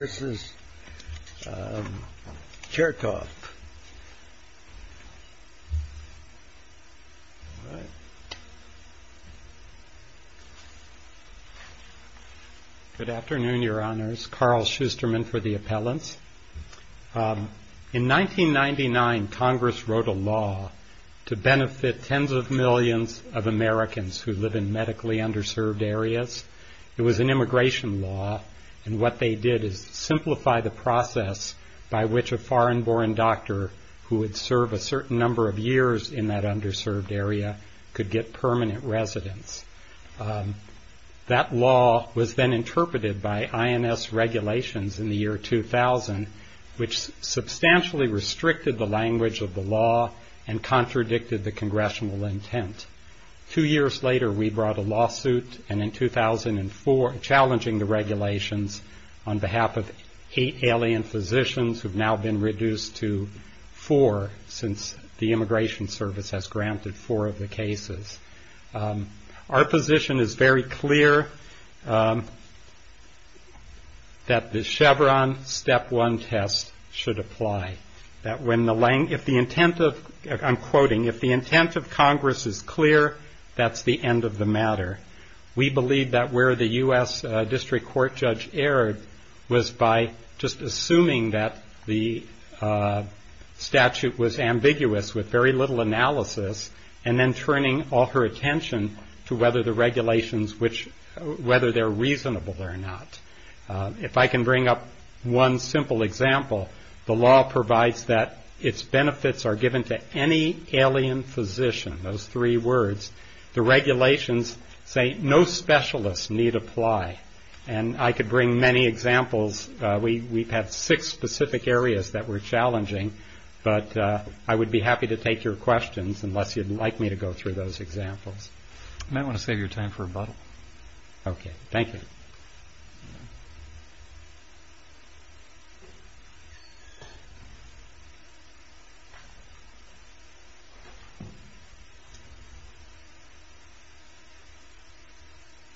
In 1999, Congress wrote a law to benefit tens of millions of Americans who live in medically by which a foreign-born doctor who would serve a certain number of years in that underserved area could get permanent residence. That law was then interpreted by INS regulations in the year 2000, which substantially restricted the language of the law and contradicted the Congressional intent. Two years later, we brought a lawsuit challenging the regulations on behalf of eight alien physicians, who have now been reduced to four since the Immigration Service has granted four of the cases. Our position is very clear that the Chevron Step 1 test should apply. If the intent of Congress is clear, that's the end of the matter. We believe that where the U.S. District Court judge erred was by just assuming that the statute was ambiguous, with very little analysis, and then turning all her attention to whether the regulations, whether they're reasonable or not. If I can bring up one simple example, the law provides that its benefits are given to any alien physician, those three words. The regulations say no specialists need apply, and I could bring many examples. We've had six specific areas that were challenging, but I would be happy to take your questions unless you'd like me to go through those examples. You might want to save your time for rebuttal. Okay, thank you.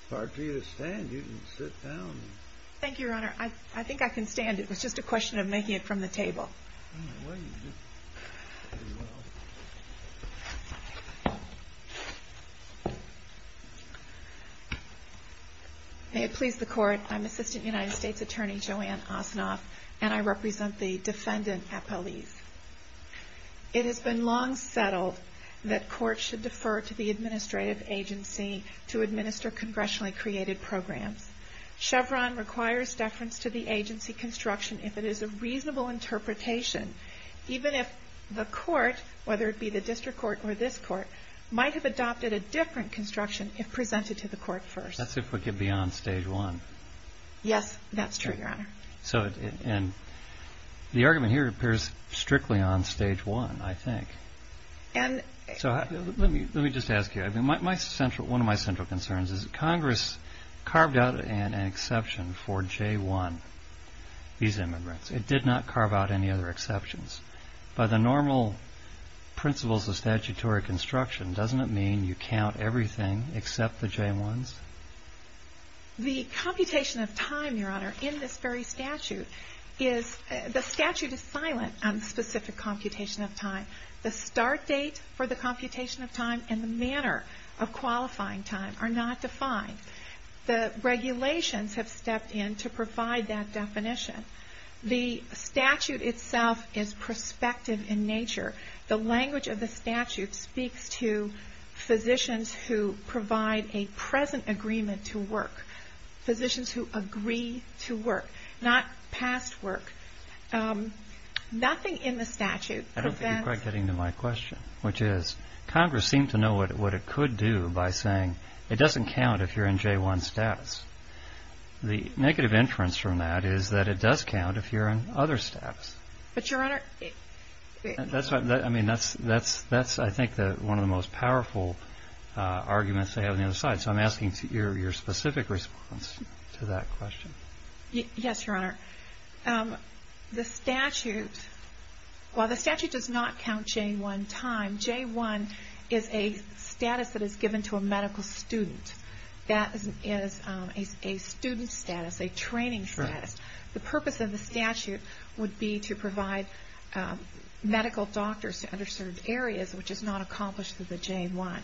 It's hard for you to stand. You can sit down. Thank you, Your Honor. I think I can stand. It was just a question of making it from the table. May it please the Court, I'm Assistant United States Attorney Joanne Osnoff, and I represent the Defendant Appellees. It has been long settled that courts should defer to the administrative agency to administer congressionally created programs. Chevron requires deference to the agency construction if it is a reasonable interpretation, even if the court, whether it be the district court or this court, might have adopted a different construction if presented to the court first. That's if it could be on Stage 1. Yes, that's true, Your Honor. And the argument here appears strictly on Stage 1, I think. Let me just ask you. One of my central concerns is that Congress carved out an exception for J-1, these immigrants. It did not carve out any other exceptions. By the normal principles of statutory construction, doesn't it mean you count everything except the J-1s? The computation of time, Your Honor, in this very statute is silent on the specific computation of time. The start date for the computation of time and the manner of qualifying time are not defined. The regulations have stepped in to provide that definition. The statute itself is prospective in nature. The language of the statute speaks to physicians who provide a present agreement to work, physicians who agree to work, not past work. Nothing in the statute prevents- I don't think you're quite getting to my question, which is Congress seemed to know what it could do by saying it doesn't count if you're in J-1 status. The negative inference from that is that it does count if you're in other status. But, Your Honor- That's, I think, one of the most powerful arguments they have on the other side. So I'm asking your specific response to that question. Yes, Your Honor. The statute, while the statute does not count J-1 time, J-1 is a status that is given to a medical student. That is a student status, a training status. The purpose of the statute would be to provide medical doctors to underserved areas, which is not accomplished through the J-1.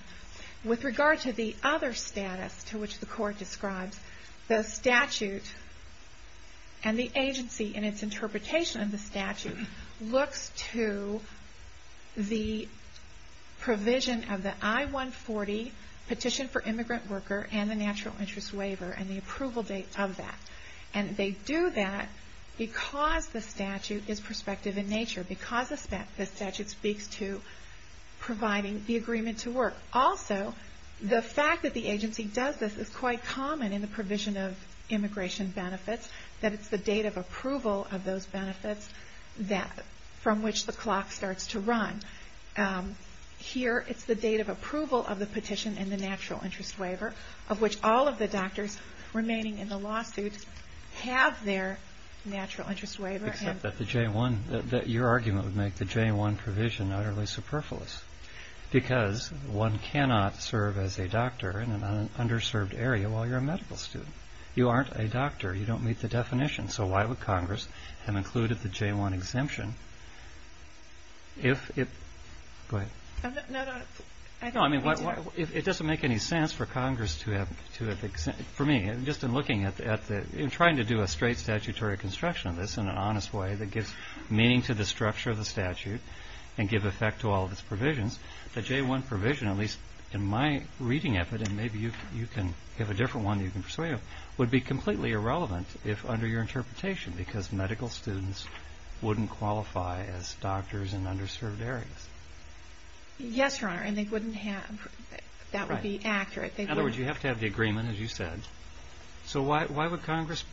With regard to the other status to which the Court describes, the statute and the agency in its interpretation of the statute looks to the provision of the I-140 Petition for Immigrant Worker and the Natural Interest Waiver and the approval date of that. And they do that because the statute is prospective in nature, because the statute speaks to providing the agreement to work. Also, the fact that the agency does this is quite common in the provision of immigration benefits, that it's the date of approval of those benefits from which the clock starts to run. Here, it's the date of approval of the petition and the natural interest waiver, of which all of the doctors remaining in the lawsuit have their natural interest waiver. Except that the J-1, that your argument would make the J-1 provision utterly superfluous, because one cannot serve as a doctor in an underserved area while you're a medical student. You aren't a doctor. You don't meet the definition. So why would Congress have included the J-1 exemption if it, go ahead. No, I mean, it doesn't make any sense for Congress to have, for me, just in looking at the, in trying to do a straight statutory construction of this in an honest way that gives meaning to the structure of the statute and give effect to all of its provisions, the J-1 provision, at least in my reading of it, and maybe you can have a different one you can pursue, would be completely irrelevant if under your interpretation, because medical students wouldn't qualify as doctors in underserved areas. Yes, Your Honor, and they wouldn't have, that would be accurate. In other words, you have to have the agreement, as you said. So why would Congress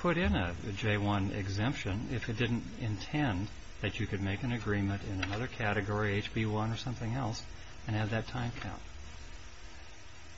put in a J-1 exemption if it didn't intend that you could make an agreement in another category, HB-1 or something else, and have that time count?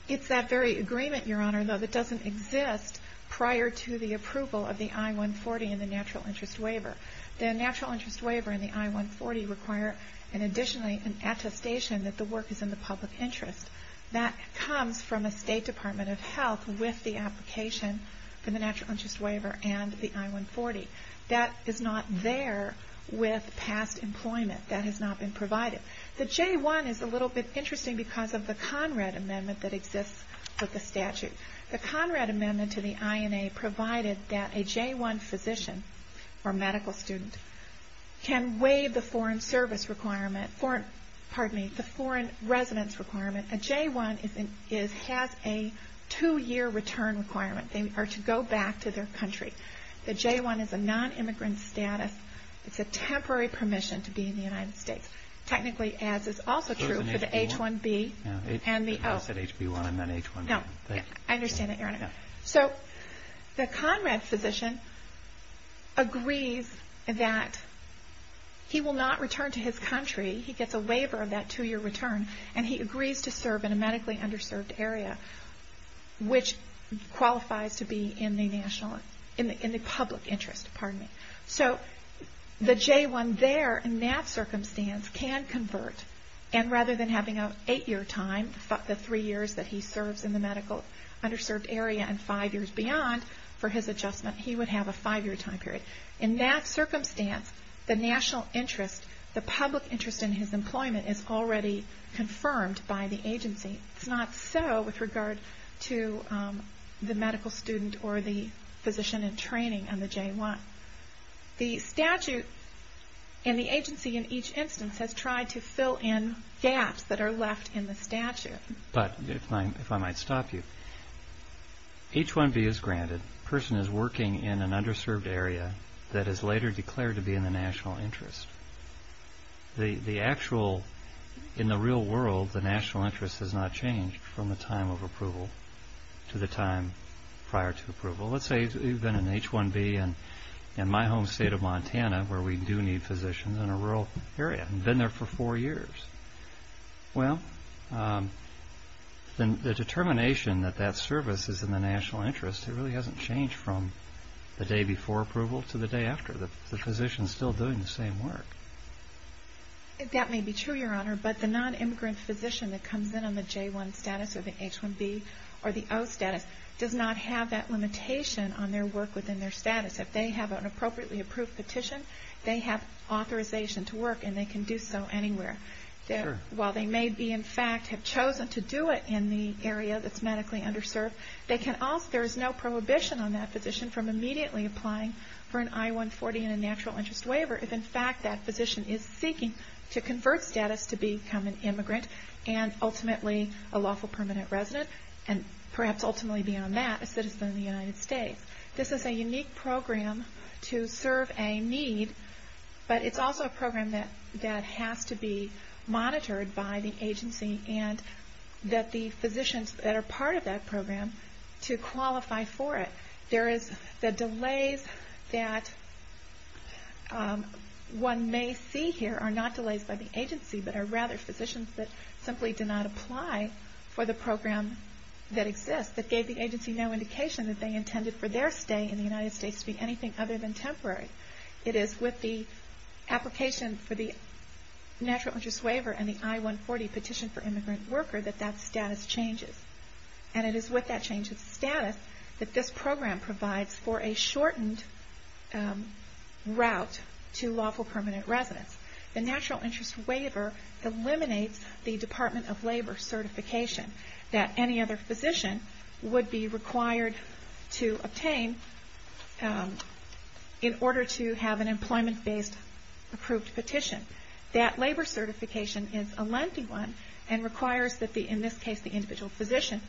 It's that very agreement, Your Honor, though, that doesn't exist prior to the approval of the I-140 and the Natural Interest Waiver. The Natural Interest Waiver and the I-140 require an additional attestation that the work is in the public interest. That comes from a State Department of Health with the application for the Natural Interest Waiver and the I-140. That is not there with past employment. That has not been provided. The J-1 is a little bit interesting because of the Conrad Amendment that exists with the statute. The Conrad Amendment to the INA provided that a J-1 physician or medical student can waive the foreign service requirement, pardon me, the foreign residence requirement. A J-1 has a two-year return requirement. They are to go back to their country. The J-1 is a non-immigrant status. It's a temporary permission to be in the United States. Technically, as is also true for the H-1B and the O. I said H-B-1 and not H-1B. I understand that, Your Honor. The Conrad physician agrees that he will not return to his country. He gets a waiver of that two-year return, and he agrees to serve in a medically underserved area, which qualifies to be in the public interest. The J-1 there, in that circumstance, can convert. Rather than having an eight-year time, the three years that he serves in the medically underserved area and five years beyond for his adjustment, he would have a five-year time period. In that circumstance, the national interest, the public interest in his employment, is already confirmed by the agency. It's not so with regard to the medical student or the physician-in-training on the J-1. The statute and the agency in each instance has tried to fill in gaps that are left in the statute. But if I might stop you, H-1B is granted. The person is working in an underserved area that is later declared to be in the national interest. In the real world, the national interest has not changed from the time of approval to the time prior to approval. Let's say you've been in H-1B in my home state of Montana, where we do need physicians, in a rural area. You've been there for four years. Well, the determination that that service is in the national interest, it really hasn't changed from the day before approval to the day after. The physician is still doing the same work. That may be true, Your Honor, but the non-immigrant physician that comes in on the J-1 status or the H-1B or the O status does not have that limitation on their work within their status. If they have an appropriately approved petition, they have authorization to work, and they can do so anywhere. While they may be, in fact, have chosen to do it in the area that's medically underserved, there is no prohibition on that physician from immediately applying for an I-140 and a natural interest waiver if, in fact, that physician is seeking to convert status to become an immigrant, and ultimately a lawful permanent resident, and perhaps ultimately beyond that, a citizen of the United States. This is a unique program to serve a need, but it's also a program that has to be monitored by the agency and that the physicians that are part of that program to qualify for it. There is the delays that one may see here are not delays by the agency, but are rather physicians that simply did not apply for the program that exists, that gave the agency no indication that they intended for their stay in the United States to be anything other than temporary. It is with the application for the natural interest waiver and the I-140 petition for immigrant worker that that status changes. And it is with that change of status that this program provides for a shortened route to lawful permanent residence. The natural interest waiver eliminates the Department of Labor certification that any other physician would be required to obtain in order to have an employment-based approved petition. That labor certification is a lengthy one and requires, in this case, the individual physician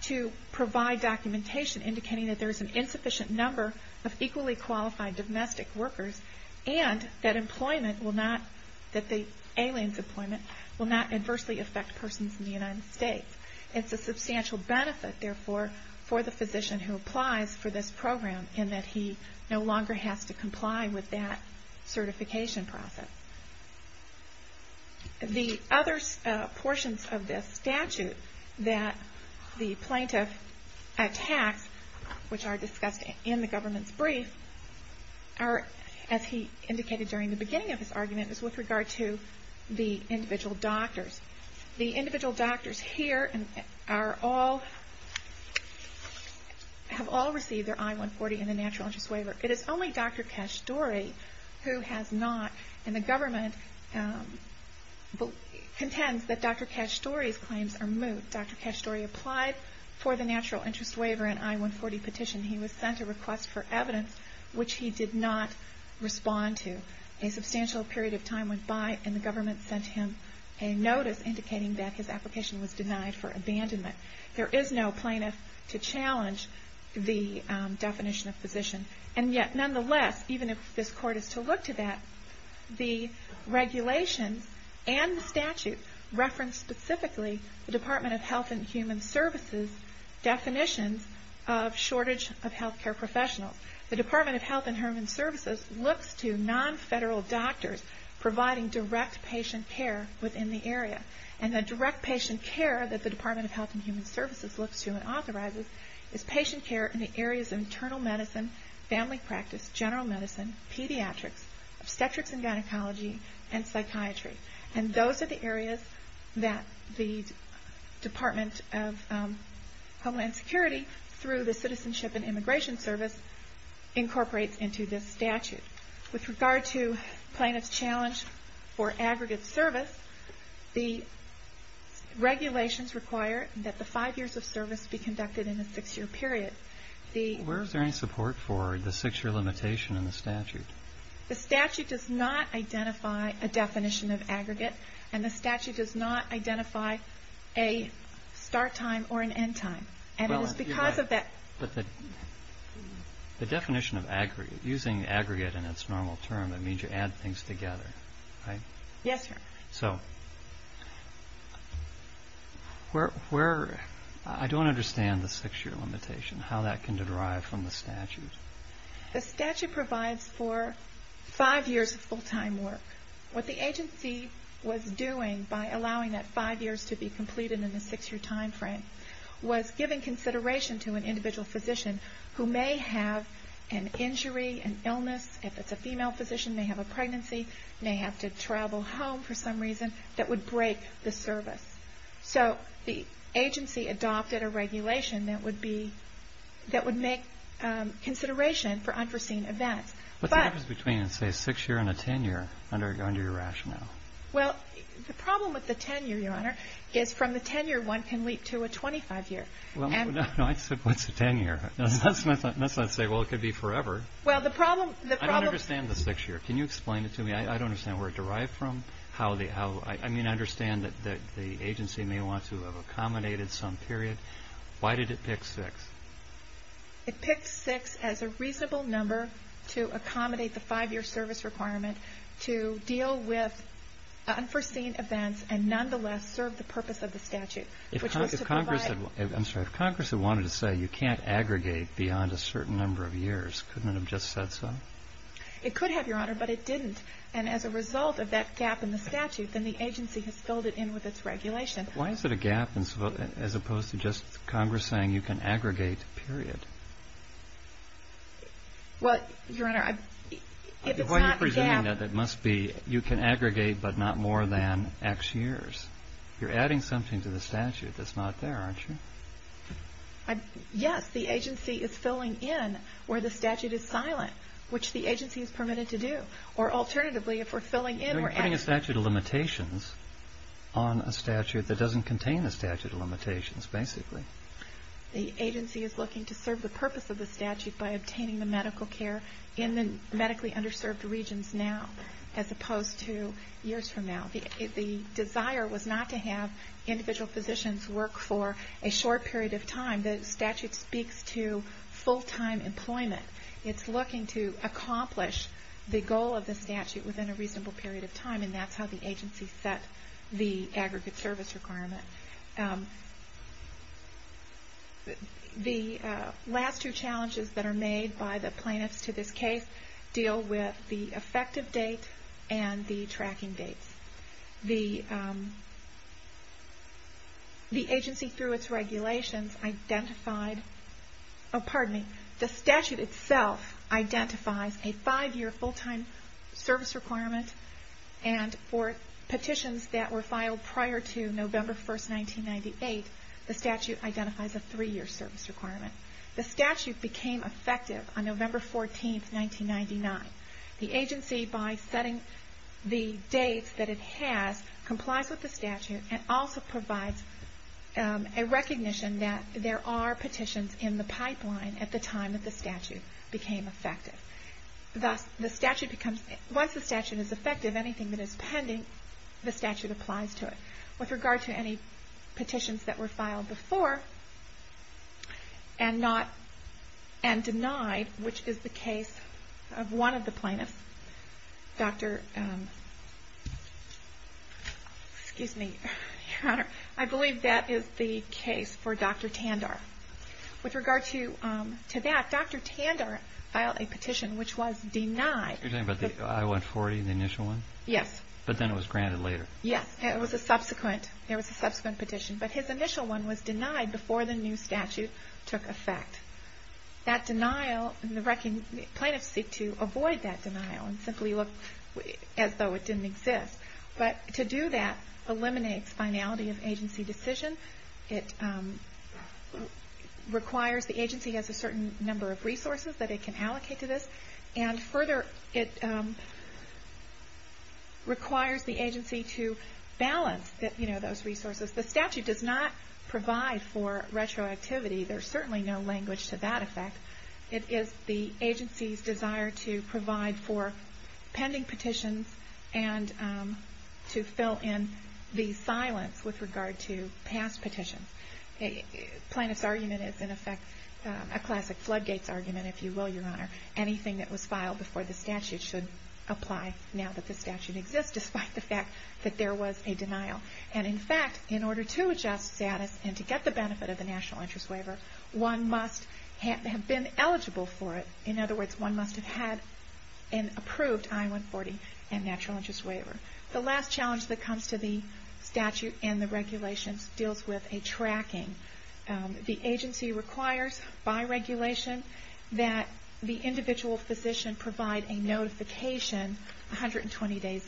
to provide documentation indicating that there is an insufficient number of equally qualified domestic workers and that the alien's employment will not adversely affect persons in the United States. It's a substantial benefit, therefore, for the physician who applies for this program in that he no longer has to comply with that certification process. The other portions of this statute that the plaintiff attacks, which are discussed in the government's brief, are, as he indicated during the beginning of his argument, is with regard to the individual doctors. The individual doctors here have all received their I-140 and the natural interest waiver. It is only Dr. Kasturi who has not, and the government contends that Dr. Kasturi's claims are moot. When Dr. Kasturi applied for the natural interest waiver and I-140 petition, he was sent a request for evidence, which he did not respond to. A substantial period of time went by and the government sent him a notice indicating that his application was denied for abandonment. There is no plaintiff to challenge the definition of physician. And yet, nonetheless, even if this Court is to look to that, the regulations and the statute reference specifically the Department of Health and Human Services definitions of shortage of healthcare professionals. The Department of Health and Human Services looks to non-federal doctors providing direct patient care within the area. And the direct patient care that the Department of Health and Human Services looks to and authorizes is patient care in the areas of internal medicine, family practice, general medicine, pediatrics, obstetrics and gynecology, and psychiatry. And those are the areas that the Department of Homeland Security, through the Citizenship and Immigration Service, incorporates into this statute. With regard to plaintiff's challenge for aggregate service, the regulations require that the five years of service be conducted in a six-year period. Where is there any support for the six-year limitation in the statute? The statute does not identify a definition of aggregate, and the statute does not identify a start time or an end time. And it is because of that. But the definition of aggregate, using aggregate in its normal term, that means you add things together, right? Yes, sir. So where – I don't understand the six-year limitation, how that can derive from the statute. The statute provides for five years of full-time work. What the agency was doing by allowing that five years to be completed in the six-year time frame was giving consideration to an individual physician who may have an injury, an illness, if it's a female physician, may have a pregnancy, may have to travel home for some reason, that would break the service. So the agency adopted a regulation that would make consideration for unforeseen events. What's the difference between, say, a six-year and a 10-year under your rationale? Well, the problem with the 10-year, Your Honor, is from the 10-year one can leap to a 25-year. No, I said what's a 10-year? That's not to say, well, it could be forever. Well, the problem – I don't understand the six-year. Can you explain it to me? I don't understand where it derived from. I mean, I understand that the agency may want to have accommodated some period. Why did it pick six? It picked six as a reasonable number to accommodate the five-year service requirement to deal with unforeseen events and nonetheless serve the purpose of the statute, which was to provide – I'm sorry. If Congress had wanted to say you can't aggregate beyond a certain number of years, couldn't it have just said so? It could have, Your Honor, but it didn't. And as a result of that gap in the statute, then the agency has filled it in with its regulation. Why is it a gap as opposed to just Congress saying you can aggregate, period? Well, Your Honor, if it's not a gap – Why are you presuming that it must be you can aggregate but not more than X years? You're adding something to the statute that's not there, aren't you? Yes, the agency is filling in where the statute is silent, which the agency is permitted to do. Or alternatively, if we're filling in – You're putting a statute of limitations on a statute that doesn't contain a statute of limitations, basically. The agency is looking to serve the purpose of the statute by obtaining the medical care in the medically underserved regions now as opposed to years from now. The desire was not to have individual physicians work for a short period of time. The statute speaks to full-time employment. It's looking to accomplish the goal of the statute within a reasonable period of time, and that's how the agency set the aggregate service requirement. The last two challenges that are made by the plaintiffs to this case deal with the effective date and the tracking dates. The agency, through its regulations, identified – Oh, pardon me. The statute itself identifies a five-year full-time service requirement, and for petitions that were filed prior to November 1, 1998, the statute identifies a three-year service requirement. The statute became effective on November 14, 1999. The agency, by setting the dates that it has, complies with the statute and also provides a recognition that there are petitions in the pipeline at the time that the statute became effective. Thus, once the statute is effective, anything that is pending, the statute applies to it. With regard to any petitions that were filed before and denied, which is the case of one of the plaintiffs, Dr. – Excuse me, Your Honor. I believe that is the case for Dr. Tandar. With regard to that, Dr. Tandar filed a petition which was denied. You're talking about the I-140, the initial one? Yes. But then it was granted later. Yes. It was a subsequent – there was a subsequent petition. But his initial one was denied before the new statute took effect. That denial – the plaintiffs seek to avoid that denial and simply look as though it didn't exist. But to do that eliminates finality of agency decision. It requires the agency has a certain number of resources that it can allocate to this. And further, it requires the agency to balance those resources. The statute does not provide for retroactivity. There's certainly no language to that effect. It is the agency's desire to provide for pending petitions and to fill in the silence with regard to past petitions. Plaintiff's argument is, in effect, a classic floodgates argument, if you will, Your Honor. Anything that was filed before the statute should apply now that the statute exists, despite the fact that there was a denial. And, in fact, in order to adjust status and to get the benefit of the National Interest Waiver, one must have been eligible for it. In other words, one must have had an approved I-140 and Natural Interest Waiver. The last challenge that comes to the statute and the regulations deals with a tracking. The agency requires, by regulation, that the individual physician provide a notification 120 days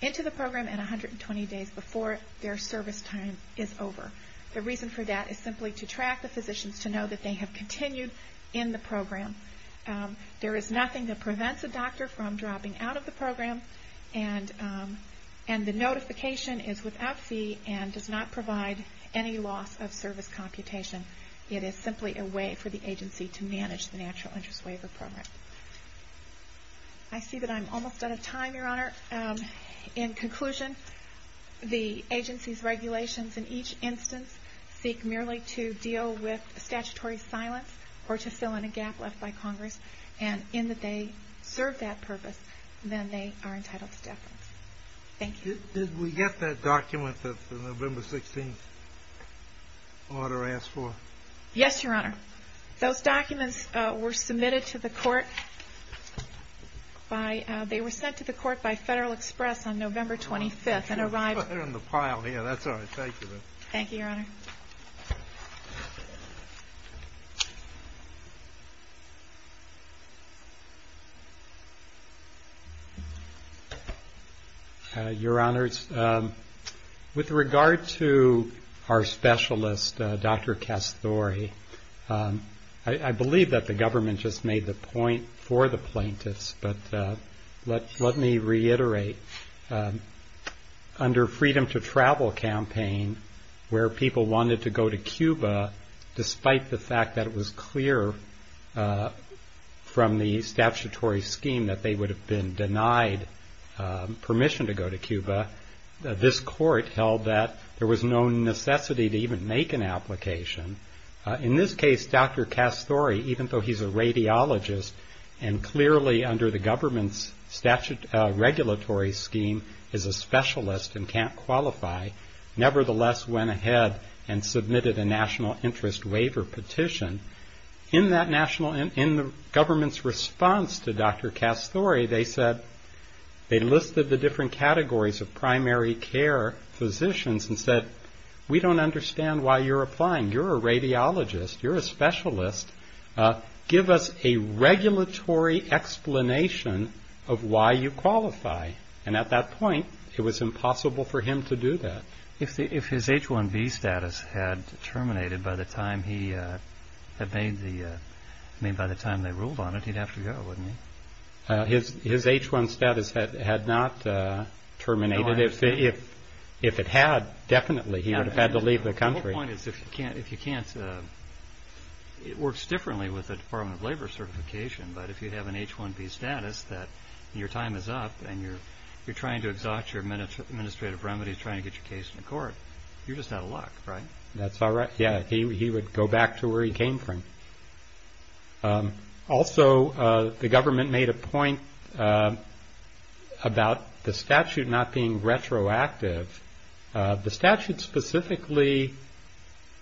into the program and 120 days before their service time is over. The reason for that is simply to track the physicians to know that they have continued in the program. There is nothing that prevents a doctor from dropping out of the program. And the notification is without fee and does not provide any loss of service computation. It is simply a way for the agency to manage the Natural Interest Waiver program. I see that I'm almost out of time, Your Honor. In conclusion, the agency's regulations in each instance seek merely to deal with statutory silence or to fill in a gap left by Congress. And in that they serve that purpose, then they are entitled to deference. Thank you. Did we get that document that the November 16th order asked for? Yes, Your Honor. Those documents were submitted to the court by they were sent to the court by Federal Express on November 25th and arrived. They're in the pile here. That's all right. Thank you, Your Honor. Your Honor, with regard to our specialist, Dr. Castori, I believe that the government just made the point for the plaintiffs. Let me reiterate. Under Freedom to Travel campaign, where people wanted to go to Cuba, despite the fact that it was clear from the statutory scheme that they would have been denied permission to go to Cuba, this court held that there was no necessity to even make an application. In this case, Dr. Castori, even though he's a radiologist and clearly under the government's regulatory scheme is a specialist and can't qualify, nevertheless went ahead and submitted a national interest waiver petition. In the government's response to Dr. Castori, they said they listed the different categories of primary care physicians and said we don't understand why you're applying. You're a radiologist. You're a specialist. Give us a regulatory explanation of why you qualify. And at that point, it was impossible for him to do that. If his H-1B status had terminated by the time he had made the, I mean, by the time they ruled on it, he'd have to go, wouldn't he? His H-1 status had not terminated. If it had, definitely he would have had to leave the country. My point is if you can't, it works differently with the Department of Labor certification, but if you have an H-1B status that your time is up and you're trying to exhaust your administrative remedies, trying to get your case in court, you're just out of luck, right? That's all right. Yeah, he would go back to where he came from. Also, the government made a point about the statute not being retroactive. The statute specifically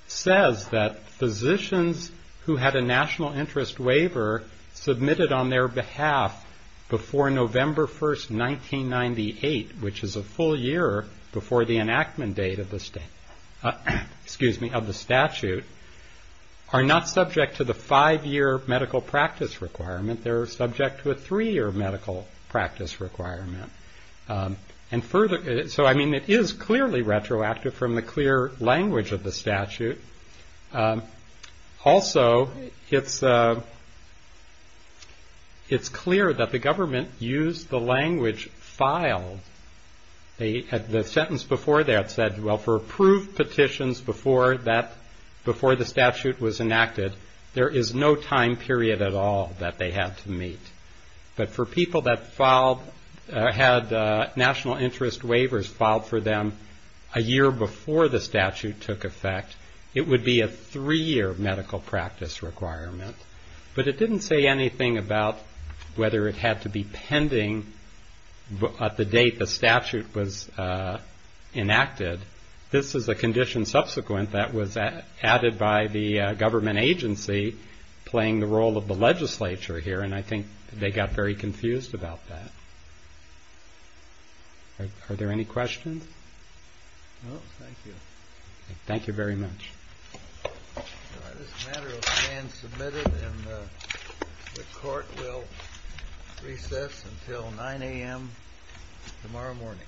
says that physicians who had a national interest waiver submitted on their behalf before November 1, 1998, which is a full year before the enactment date of the statute, are not subject to the five-year medical practice requirement. They're subject to a three-year medical practice requirement. And so, I mean, it is clearly retroactive from the clear language of the statute. Also, it's clear that the government used the language filed. The sentence before that said, well, for approved petitions before the statute was enacted, there is no time period at all that they had to meet. But for people that had national interest waivers filed for them a year before the statute took effect, it would be a three-year medical practice requirement. But it didn't say anything about whether it had to be pending at the date the statute was enacted. This is a condition subsequent that was added by the government agency playing the role of the legislature here, and I think they got very confused about that. Are there any questions? No, thank you. Thank you very much. This matter will stand submitted, and the court will recess until 9 a.m. tomorrow morning. Thank you.